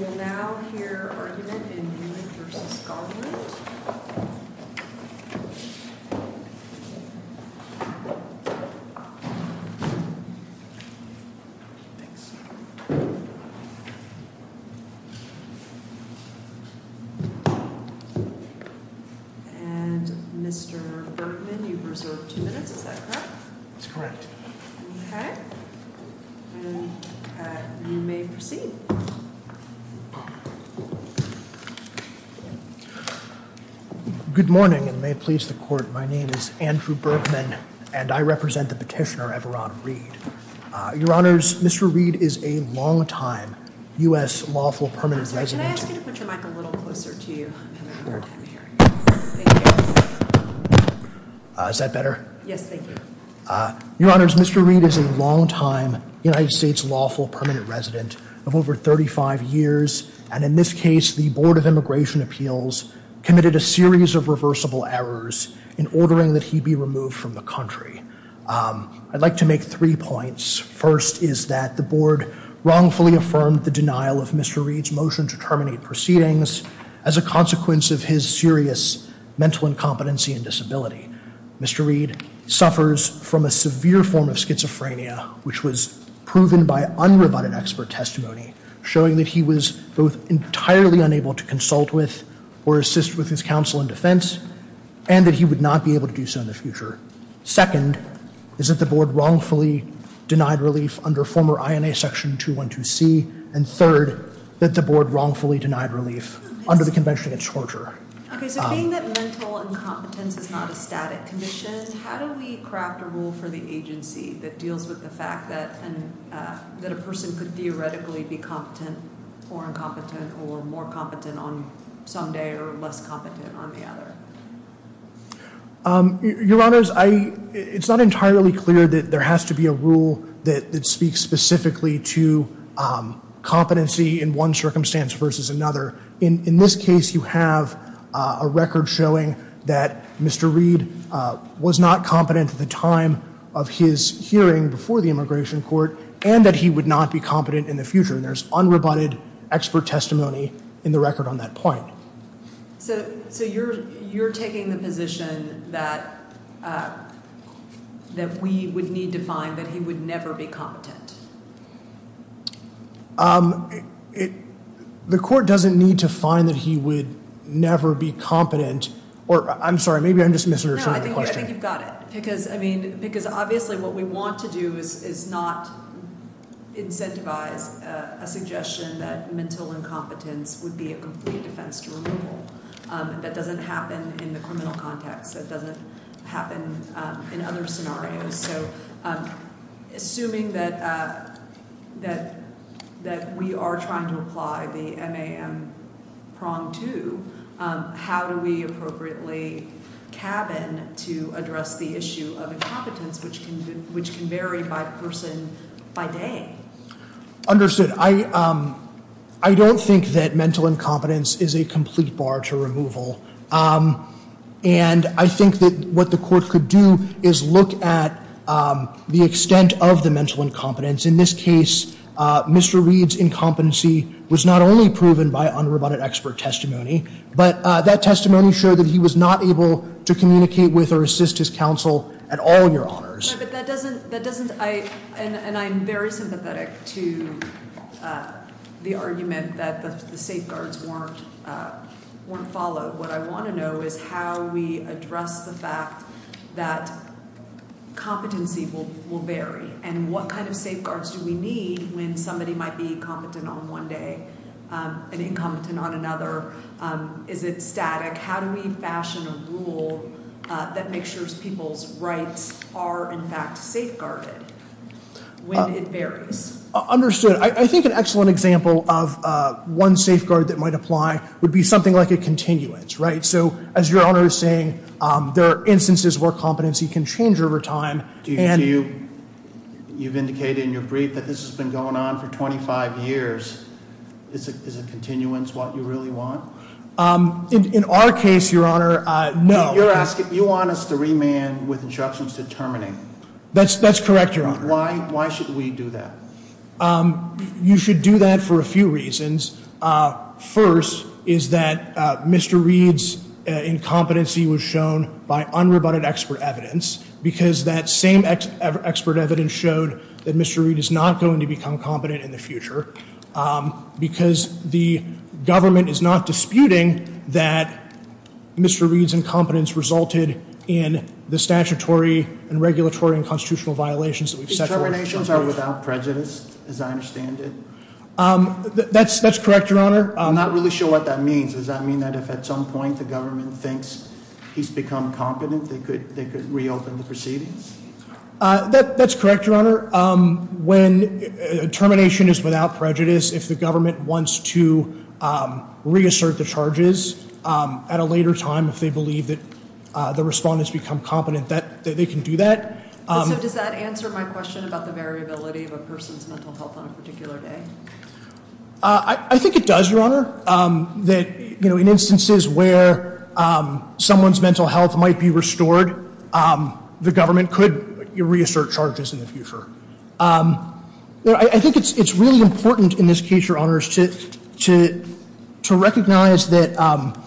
We will now hear argument in Newman v. Garland. And Mr. Berkman, you've reserved two minutes, is that correct? That's correct. Okay, you may proceed. Good morning, and may it please the court, my name is Andrew Berkman, and I represent the petitioner, Everon Reed. Your Honors, Mr. Reed is a longtime U.S. lawful permanent resident. Can I ask you to put your mic a little closer to you? Is that better? Yes, thank you. Your Honors, Mr. Reed is a longtime U.S. lawful permanent resident of over 35 years. And in this case, the Board of Immigration Appeals committed a series of reversible errors in ordering that he be removed from the country. I'd like to make three points. First is that the board wrongfully affirmed the denial of Mr. Reed's motion to terminate proceedings as a consequence of his serious mental incompetency and disability. Mr. Reed suffers from a severe form of schizophrenia, which was proven by unrebutted expert testimony, showing that he was both entirely unable to consult with or assist with his counsel and defense, and that he would not be able to do so in the future. Second is that the board wrongfully denied relief under former INA Section 212C. And third, that the board wrongfully denied relief under the Convention Against Torture. Okay, so being that mental incompetence is not a static condition, how do we craft a rule for the agency that deals with the fact that a person could theoretically be competent or incompetent or more competent on some day or less competent on the other? Your Honors, it's not entirely clear that there has to be a rule that speaks specifically to competency in one circumstance versus another. In this case, you have a record showing that Mr. Reed was not competent at the time of his hearing before the Immigration Court, and that he would not be competent in the future, and there's unrebutted expert testimony in the record on that point. So you're taking the position that we would need to find that he would never be competent? The court doesn't need to find that he would never be competent. I'm sorry, maybe I'm just misinterpreting the question. No, I think you've got it. Because obviously what we want to do is not incentivize a suggestion that mental incompetence would be a complete defense to removal. That doesn't happen in the criminal context. That doesn't happen in other scenarios. So assuming that we are trying to apply the MAM prong to, how do we appropriately cabin to address the issue of incompetence, which can vary by person by day? Understood. I don't think that mental incompetence is a complete bar to removal. And I think that what the court could do is look at the extent of the mental incompetence. In this case, Mr. Reed's incompetency was not only proven by unrebutted expert testimony, but that testimony showed that he was not able to communicate with or assist his counsel at all, Your Honors. And I'm very sympathetic to the argument that the safeguards weren't followed. What I want to know is how we address the fact that competency will vary, and what kind of safeguards do we need when somebody might be competent on one day and incompetent on another? Is it static? How do we fashion a rule that makes sure people's rights are, in fact, safeguarded when it varies? Understood. I think an excellent example of one safeguard that might apply would be something like a continuance. So as Your Honor is saying, there are instances where competency can change over time. You've indicated in your brief that this has been going on for 25 years. Is a continuance what you really want? In our case, Your Honor, no. You're asking, you want us to remand with instructions determining. That's correct, Your Honor. Why should we do that? You should do that for a few reasons. First is that Mr. Reed's incompetency was shown by unrebutted expert evidence, because that same expert evidence showed that Mr. Reed is not going to become competent in the future, because the government is not disputing that Mr. Reed's incompetence resulted in the statutory and regulatory and constitutional violations that we've set forth. His terminations are without prejudice, as I understand it? That's correct, Your Honor. I'm not really sure what that means. Does that mean that if at some point the government thinks he's become competent, they could reopen the proceedings? That's correct, Your Honor. When termination is without prejudice, if the government wants to reassert the charges at a later time, if they believe that the respondents become competent, they can do that. So does that answer my question about the variability of a person's mental health on a particular day? In instances where someone's mental health might be restored, the government could reassert charges in the future. I think it's really important in this case, Your Honors, to recognize that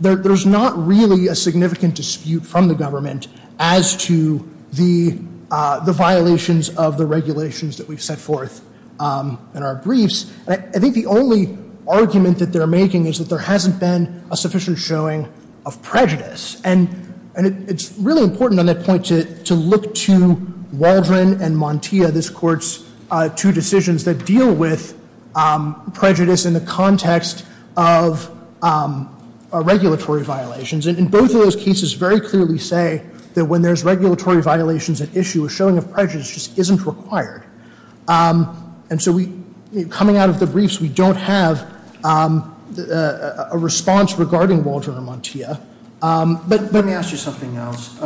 there's not really a significant dispute from the government as to the violations of the regulations that we've set forth in our briefs. I think the only argument that they're making is that there hasn't been a sufficient showing of prejudice. And it's really important on that point to look to Waldron and Montia, this Court's two decisions, that deal with prejudice in the context of regulatory violations. And both of those cases very clearly say that when there's regulatory violations at issue, a showing of prejudice just isn't required. And so coming out of the briefs, we don't have a response regarding Waldron and Montia. But let me ask you something else.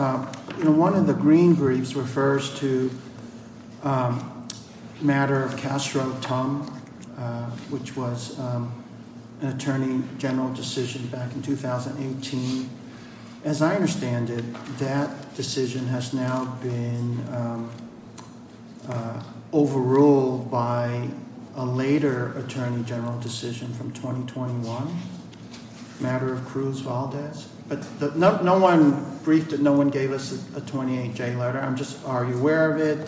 One of the green briefs refers to the matter of Castro-Tum, which was an attorney general decision back in 2018. As I understand it, that decision has now been overruled by a later attorney general decision from 2021, the matter of Cruz-Valdez. But no one briefed it. No one gave us a 28-J letter. I'm just, are you aware of it?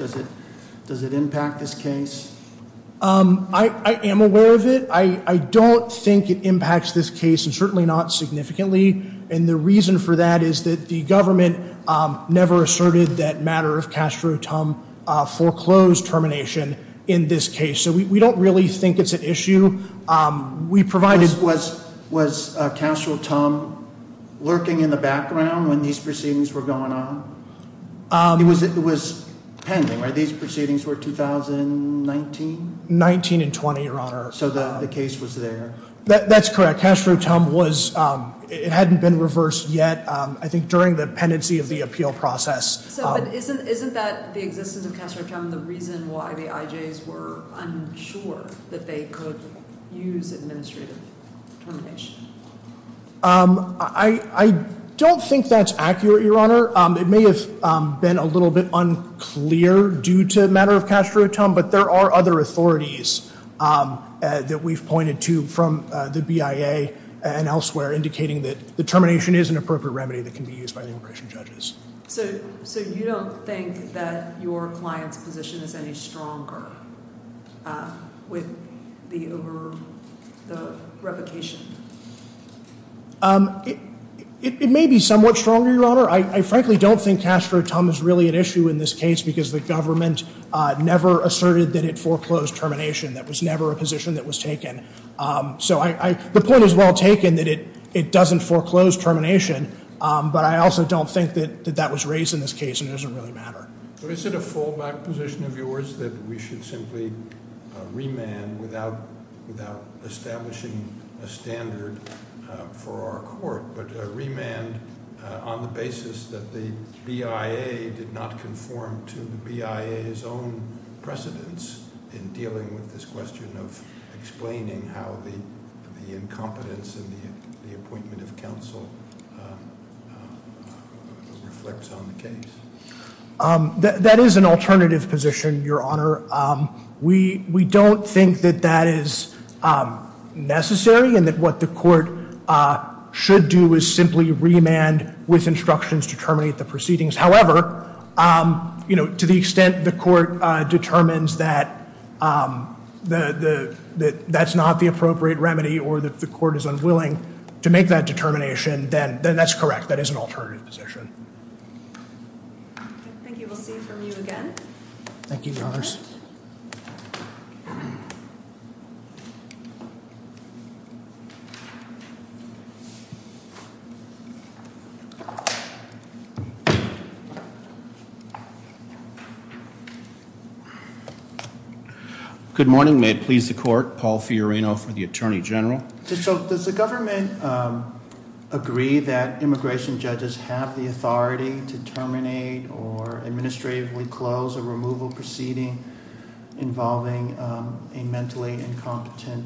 Does it impact this case? I am aware of it. I don't think it impacts this case, and certainly not significantly. And the reason for that is that the government never asserted that matter of Castro-Tum foreclosed termination in this case. So we don't really think it's an issue. Was Castro-Tum lurking in the background when these proceedings were going on? It was pending, right? 19 and 20, Your Honor. So the case was there. That's correct. Castro-Tum was, it hadn't been reversed yet, I think, during the pendency of the appeal process. So isn't that the existence of Castro-Tum the reason why the IJs were unsure that they could use administrative termination? I don't think that's accurate, Your Honor. It may have been a little bit unclear due to the matter of Castro-Tum, but there are other authorities that we've pointed to from the BIA and elsewhere indicating that the termination is an appropriate remedy that can be used by the immigration judges. So you don't think that your client's position is any stronger with the over the replication? It may be somewhat stronger, Your Honor. I frankly don't think Castro-Tum is really an issue in this case because the government never asserted that it foreclosed termination. That was never a position that was taken. So the point is well taken that it doesn't foreclose termination, but I also don't think that that was raised in this case and it doesn't really matter. So is it a fallback position of yours that we should simply remand without establishing a standard for our court? But remand on the basis that the BIA did not conform to the BIA's own precedence in dealing with this question of explaining how the incompetence in the appointment of counsel reflects on the case? That is an alternative position, Your Honor. We don't think that that is necessary and that what the court should do is simply remand with instructions to terminate the proceedings. However, to the extent the court determines that that's not the appropriate remedy or that the court is unwilling to make that determination, then that's correct. That is an alternative position. Thank you. We'll see from you again. Thank you, Your Honors. Good morning. May it please the court. Paul Fiorino for the Attorney General. So does the government agree that immigration judges have the authority to terminate or administratively close a removal proceeding involving a mentally incompetent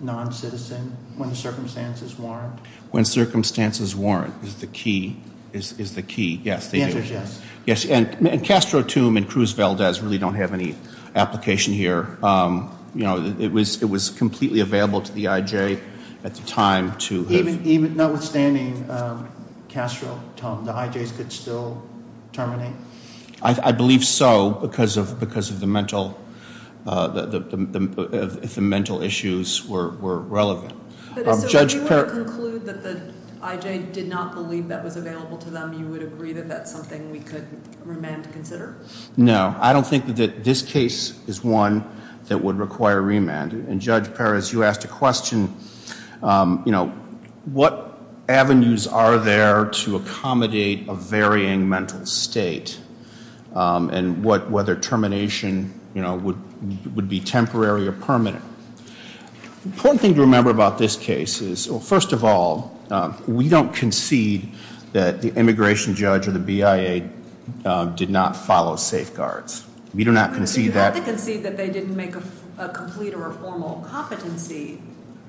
non-citizen when the circumstances warrant? When circumstances warrant is the key. Yes, they do. The answer is yes. Yes, and Castro Tomb and Cruz Valdez really don't have any application here. It was completely available to the IJ at the time. Notwithstanding Castro Tomb, the IJs could still terminate? I believe so because of the mental issues were relevant. If you were to conclude that the IJ did not believe that was available to them, you would agree that that's something we could remand to consider? No, I don't think that this case is one that would require remand. And Judge Perez, you asked a question, you know, what avenues are there to accommodate a varying mental state and whether termination would be temporary or permanent. The important thing to remember about this case is, well, first of all, we don't concede that the immigration judge or the BIA did not follow safeguards. We do not concede that. You have to concede that they didn't make a complete or a formal competency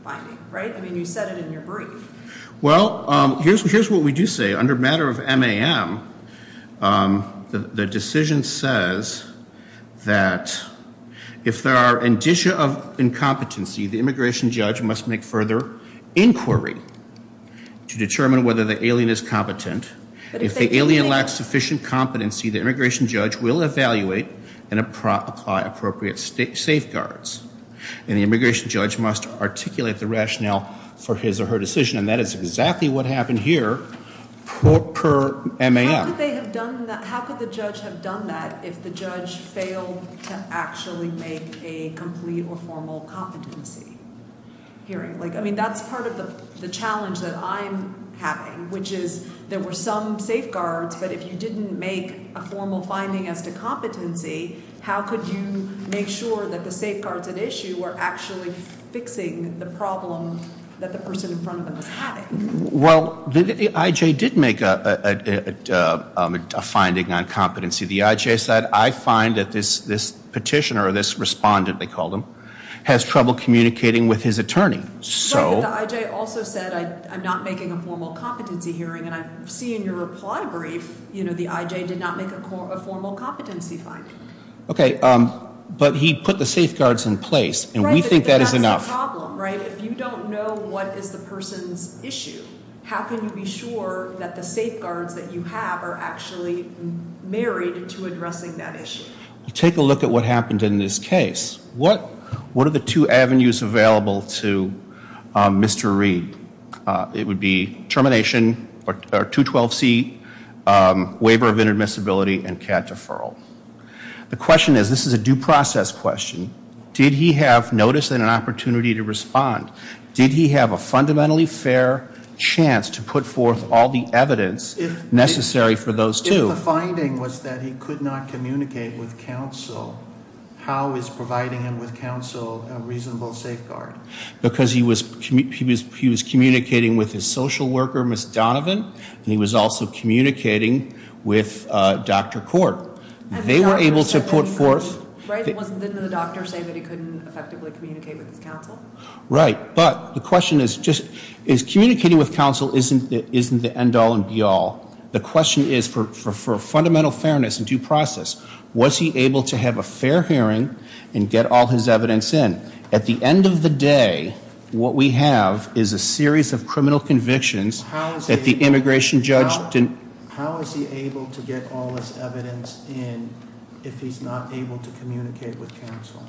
finding, right? I mean, you said it in your brief. Well, here's what we do say. Under matter of MAM, the decision says that if there are indicia of incompetency, the immigration judge must make further inquiry to determine whether the alien is competent. If the alien lacks sufficient competency, the immigration judge will evaluate and apply appropriate safeguards. And the immigration judge must articulate the rationale for his or her decision. And that is exactly what happened here per MAM. How could they have done that? How could the judge have done that if the judge failed to actually make a complete or formal competency hearing? Like, I mean, that's part of the challenge that I'm having, which is there were some safeguards, but if you didn't make a formal finding as to competency, how could you make sure that the safeguards at issue were actually fixing the problem that the person in front of them was having? Well, the IJ did make a finding on competency. The IJ said, I find that this petitioner or this respondent, they called him, has trouble communicating with his attorney. But the IJ also said, I'm not making a formal competency hearing. And I see in your reply brief, you know, the IJ did not make a formal competency finding. Okay, but he put the safeguards in place, and we think that is enough. Right, but that's the problem, right? If you don't know what is the person's issue, how can you be sure that the safeguards that you have are actually married to addressing that issue? Take a look at what happened in this case. What are the two avenues available to Mr. Reed? It would be termination or 212C, waiver of inadmissibility, and CAD deferral. The question is, this is a due process question. Did he have notice and an opportunity to respond? Did he have a fundamentally fair chance to put forth all the evidence necessary for those two? If the finding was that he could not communicate with counsel, how is providing him with counsel a reasonable safeguard? Because he was communicating with his social worker, Ms. Donovan, and he was also communicating with Dr. Kort. They were able to put forth. Right, but didn't the doctor say that he couldn't effectively communicate with his counsel? Right, but the question is just, is communicating with counsel isn't the end all and be all. The question is, for fundamental fairness and due process, was he able to have a fair hearing and get all his evidence in? At the end of the day, what we have is a series of criminal convictions that the immigration judge didn't. How is he able to get all this evidence in if he's not able to communicate with counsel?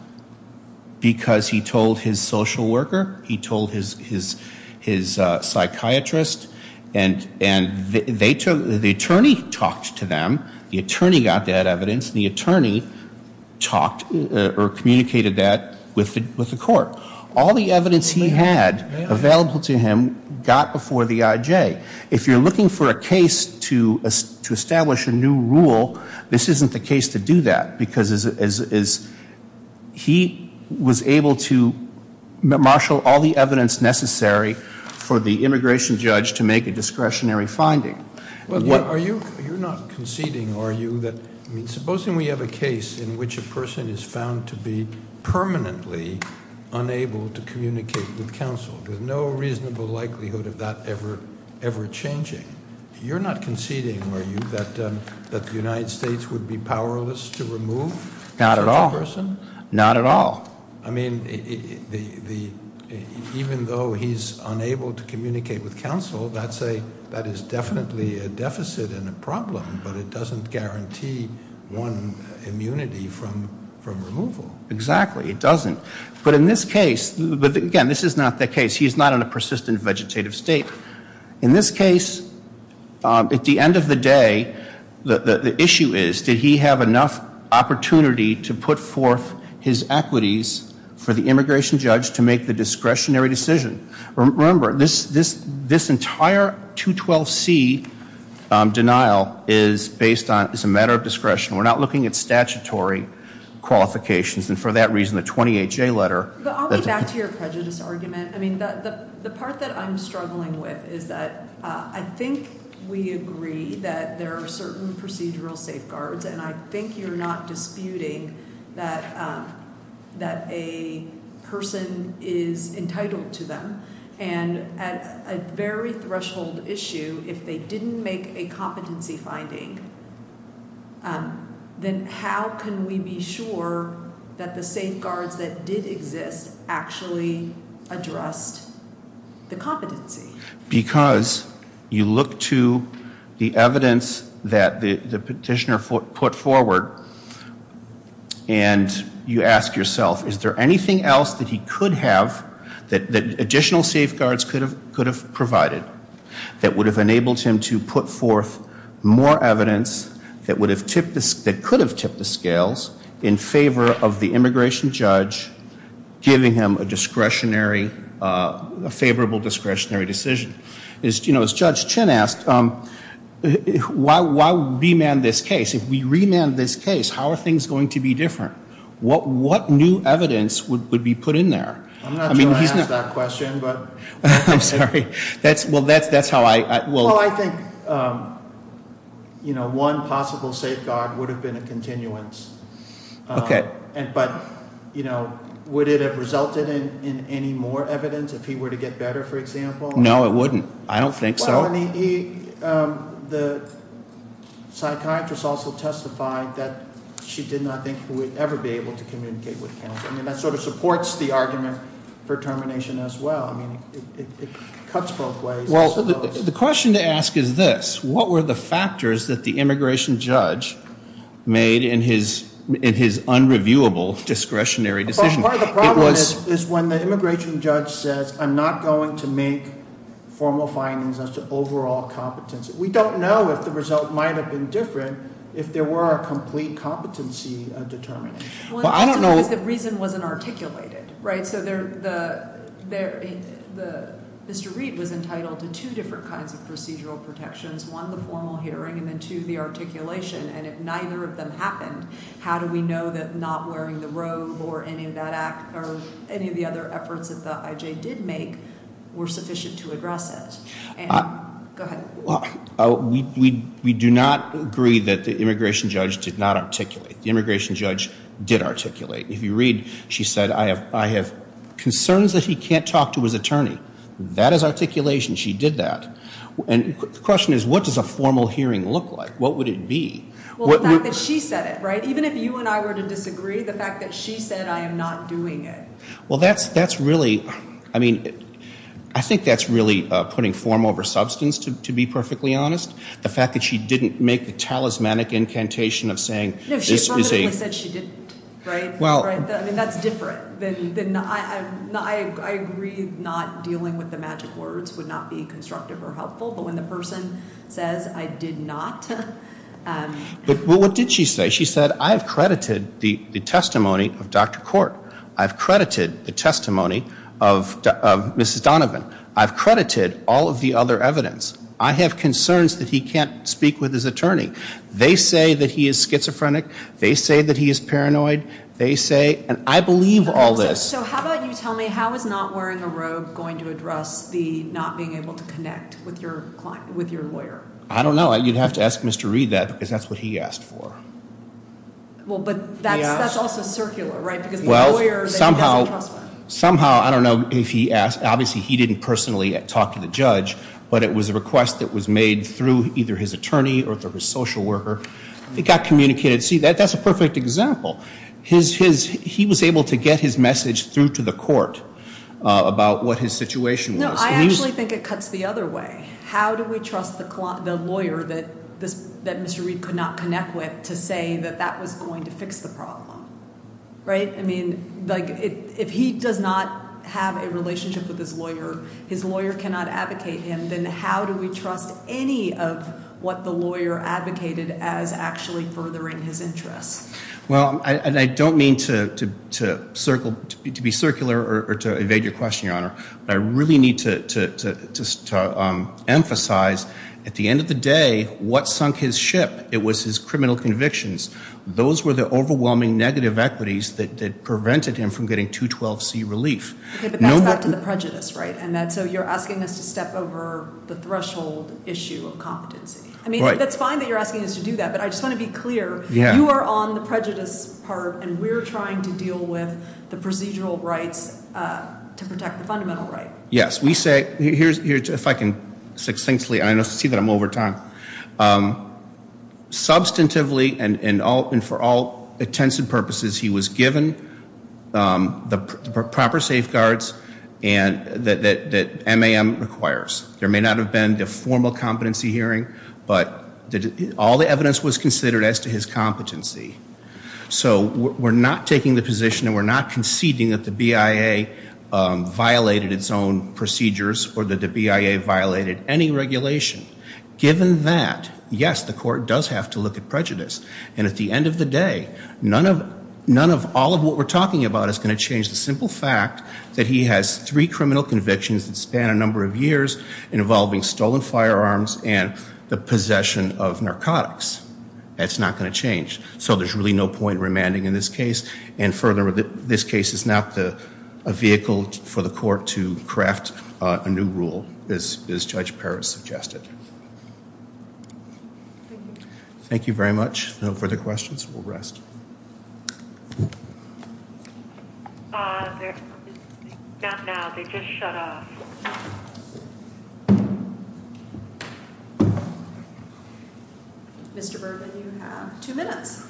Because he told his social worker, he told his psychiatrist, and the attorney talked to them. The attorney got that evidence. The attorney talked or communicated that with the court. All the evidence he had available to him got before the IJ. If you're looking for a case to establish a new rule, this isn't the case to do that, because he was able to marshal all the evidence necessary for the immigration judge to make a discretionary finding. You're not conceding, are you? Supposing we have a case in which a person is found to be permanently unable to communicate with counsel. There's no reasonable likelihood of that ever changing. You're not conceding, are you, that the United States would be powerless to remove- Not at all. Such a person? Not at all. I mean, even though he's unable to communicate with counsel, that is definitely a deficit and a problem, but it doesn't guarantee one immunity from removal. Exactly, it doesn't. But in this case, again, this is not the case. He's not in a persistent vegetative state. In this case, at the end of the day, the issue is, did he have enough opportunity to put forth his equities for the immigration judge to make the discretionary decision? Remember, this entire 212C denial is a matter of discretion. We're not looking at statutory qualifications, and for that reason, the 20HA letter- I'll get back to your prejudice argument. The part that I'm struggling with is that I think we agree that there are certain procedural safeguards, and I think you're not disputing that a person is entitled to them. And at a very threshold issue, if they didn't make a competency finding, then how can we be sure that the safeguards that did exist actually addressed the competency? Because you look to the evidence that the petitioner put forward, and you ask yourself, is there anything else that he could have, that additional safeguards could have provided, that would have enabled him to put forth more evidence that could have tipped the scales in favor of the immigration judge giving him a favorable discretionary decision? As Judge Chin asked, why remand this case? If we remand this case, how are things going to be different? What new evidence would be put in there? I'm not sure I asked that question, but- I'm sorry. Well, that's how I- Well, I think one possible safeguard would have been a continuance. Okay. But would it have resulted in any more evidence if he were to get better, for example? No, it wouldn't. I don't think so. The psychiatrist also testified that she did not think he would ever be able to communicate with counsel. I mean, that sort of supports the argument for termination as well. I mean, it cuts both ways. Well, the question to ask is this. What were the factors that the immigration judge made in his unreviewable discretionary decision? Part of the problem is when the immigration judge says, I'm not going to make formal findings as to overall competence. We don't know if the result might have been different if there were a complete competency determinant. Well, I don't know- The reason wasn't articulated, right? So Mr. Reid was entitled to two different kinds of procedural protections, one, the formal hearing, and then two, the articulation. And if neither of them happened, how do we know that not wearing the robe or any of that act or any of the other efforts that the IJ did make were sufficient to address it? Go ahead. We do not agree that the immigration judge did not articulate. The immigration judge did articulate. If you read, she said, I have concerns that he can't talk to his attorney. That is articulation. She did that. And the question is, what does a formal hearing look like? What would it be? Well, the fact that she said it, right? Even if you and I were to disagree, the fact that she said, I am not doing it. Well, that's really, I mean, I think that's really putting form over substance, to be perfectly honest. The fact that she didn't make the talismanic incantation of saying this is a- No, she probably said she didn't, right? I mean, that's different. I agree not dealing with the magic words would not be constructive or helpful, but when the person says, I did not. But what did she say? She said, I have credited the testimony of Dr. Court. I've credited the testimony of Mrs. Donovan. I've credited all of the other evidence. I have concerns that he can't speak with his attorney. They say that he is schizophrenic. They say that he is paranoid. They say, and I believe all this. So how about you tell me, how is not wearing a robe going to address the not being able to connect with your lawyer? I don't know. You'd have to ask Mr. Reed that, because that's what he asked for. Well, but that's also circular, right? Because the lawyer that he doesn't trust. Somehow, I don't know if he asked. Obviously, he didn't personally talk to the judge, but it was a request that was made through either his attorney or through his social worker. It got communicated. See, that's a perfect example. He was able to get his message through to the court about what his situation was. No, I actually think it cuts the other way. How do we trust the lawyer that Mr. Reed could not connect with to say that that was going to fix the problem, right? I mean, if he does not have a relationship with his lawyer, his lawyer cannot advocate him, then how do we trust any of what the lawyer advocated as actually furthering his interests? Well, and I don't mean to be circular or to evade your question, Your Honor. I really need to emphasize at the end of the day what sunk his ship. It was his criminal convictions. Those were the overwhelming negative equities that prevented him from getting 212C relief. Okay, but that's back to the prejudice, right? And so you're asking us to step over the threshold issue of competency. I mean, that's fine that you're asking us to do that, but I just want to be clear. You are on the prejudice part, and we're trying to deal with the procedural rights to protect the fundamental right. Yes, we say – if I can succinctly – I see that I'm over time. Substantively and for all intents and purposes, he was given the proper safeguards that MAM requires. There may not have been the formal competency hearing, but all the evidence was considered as to his competency. So we're not taking the position and we're not conceding that the BIA violated its own procedures or that the BIA violated any regulation. Given that, yes, the court does have to look at prejudice. And at the end of the day, none of all of what we're talking about is going to change the simple fact that he has three criminal convictions that span a number of years involving stolen firearms and the possession of narcotics. That's not going to change. So there's really no point in remanding in this case. And furthermore, this case is not a vehicle for the court to craft a new rule, as Judge Perez suggested. Thank you. Thank you very much. No further questions. We'll rest. Mr. Bourbon, you have two minutes.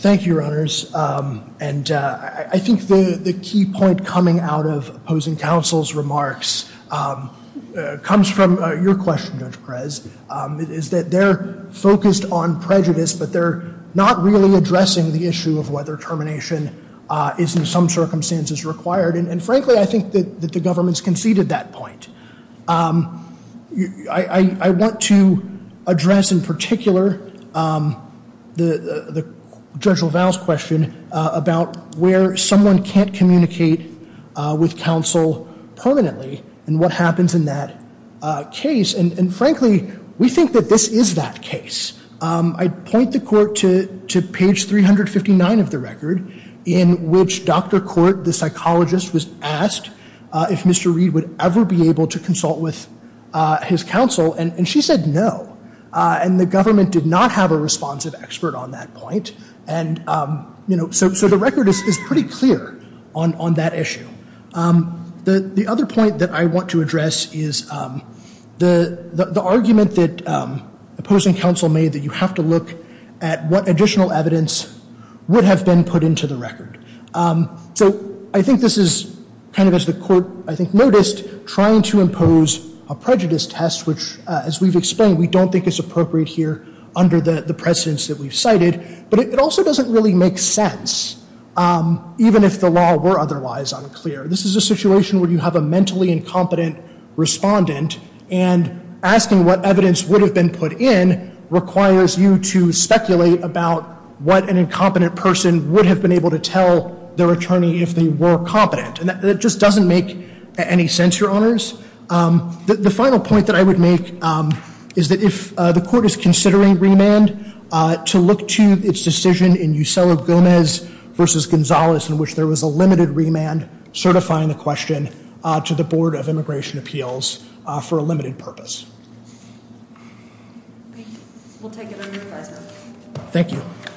Thank you, Your Honors. I think the key point coming out of opposing counsel's remarks comes from your question, Judge Perez, is that they're focused on prejudice, but they're not really addressing the issue of whether termination is in some circumstances required. And frankly, I think that the government's conceded that point. I want to address in particular the Judge LaValle's question about where someone can't communicate with counsel permanently and what happens in that case. And frankly, we think that this is that case. I point the court to page 359 of the record in which Dr. Court, the psychologist, was asked if Mr. Reed would ever be able to consult with his counsel, and she said no, and the government did not have a responsive expert on that point. And, you know, so the record is pretty clear on that issue. The other point that I want to address is the argument that opposing counsel made that you have to look at what additional evidence would have been put into the record. So I think this is kind of, as the court, I think, noticed, trying to impose a prejudice test, which, as we've explained, we don't think is appropriate here under the precedence that we've cited. But it also doesn't really make sense, even if the law were otherwise unclear. This is a situation where you have a mentally incompetent respondent, and asking what evidence would have been put in requires you to speculate about what an incompetent person would have been able to tell their attorney if they were competent. And that just doesn't make any sense, Your Honors. The final point that I would make is that if the court is considering remand, to look to its decision in Eusebio Gomez v. Gonzalez, in which there was a limited remand, certifying the question to the Board of Immigration Appeals for a limited purpose. We'll take it under advisory. Thank you.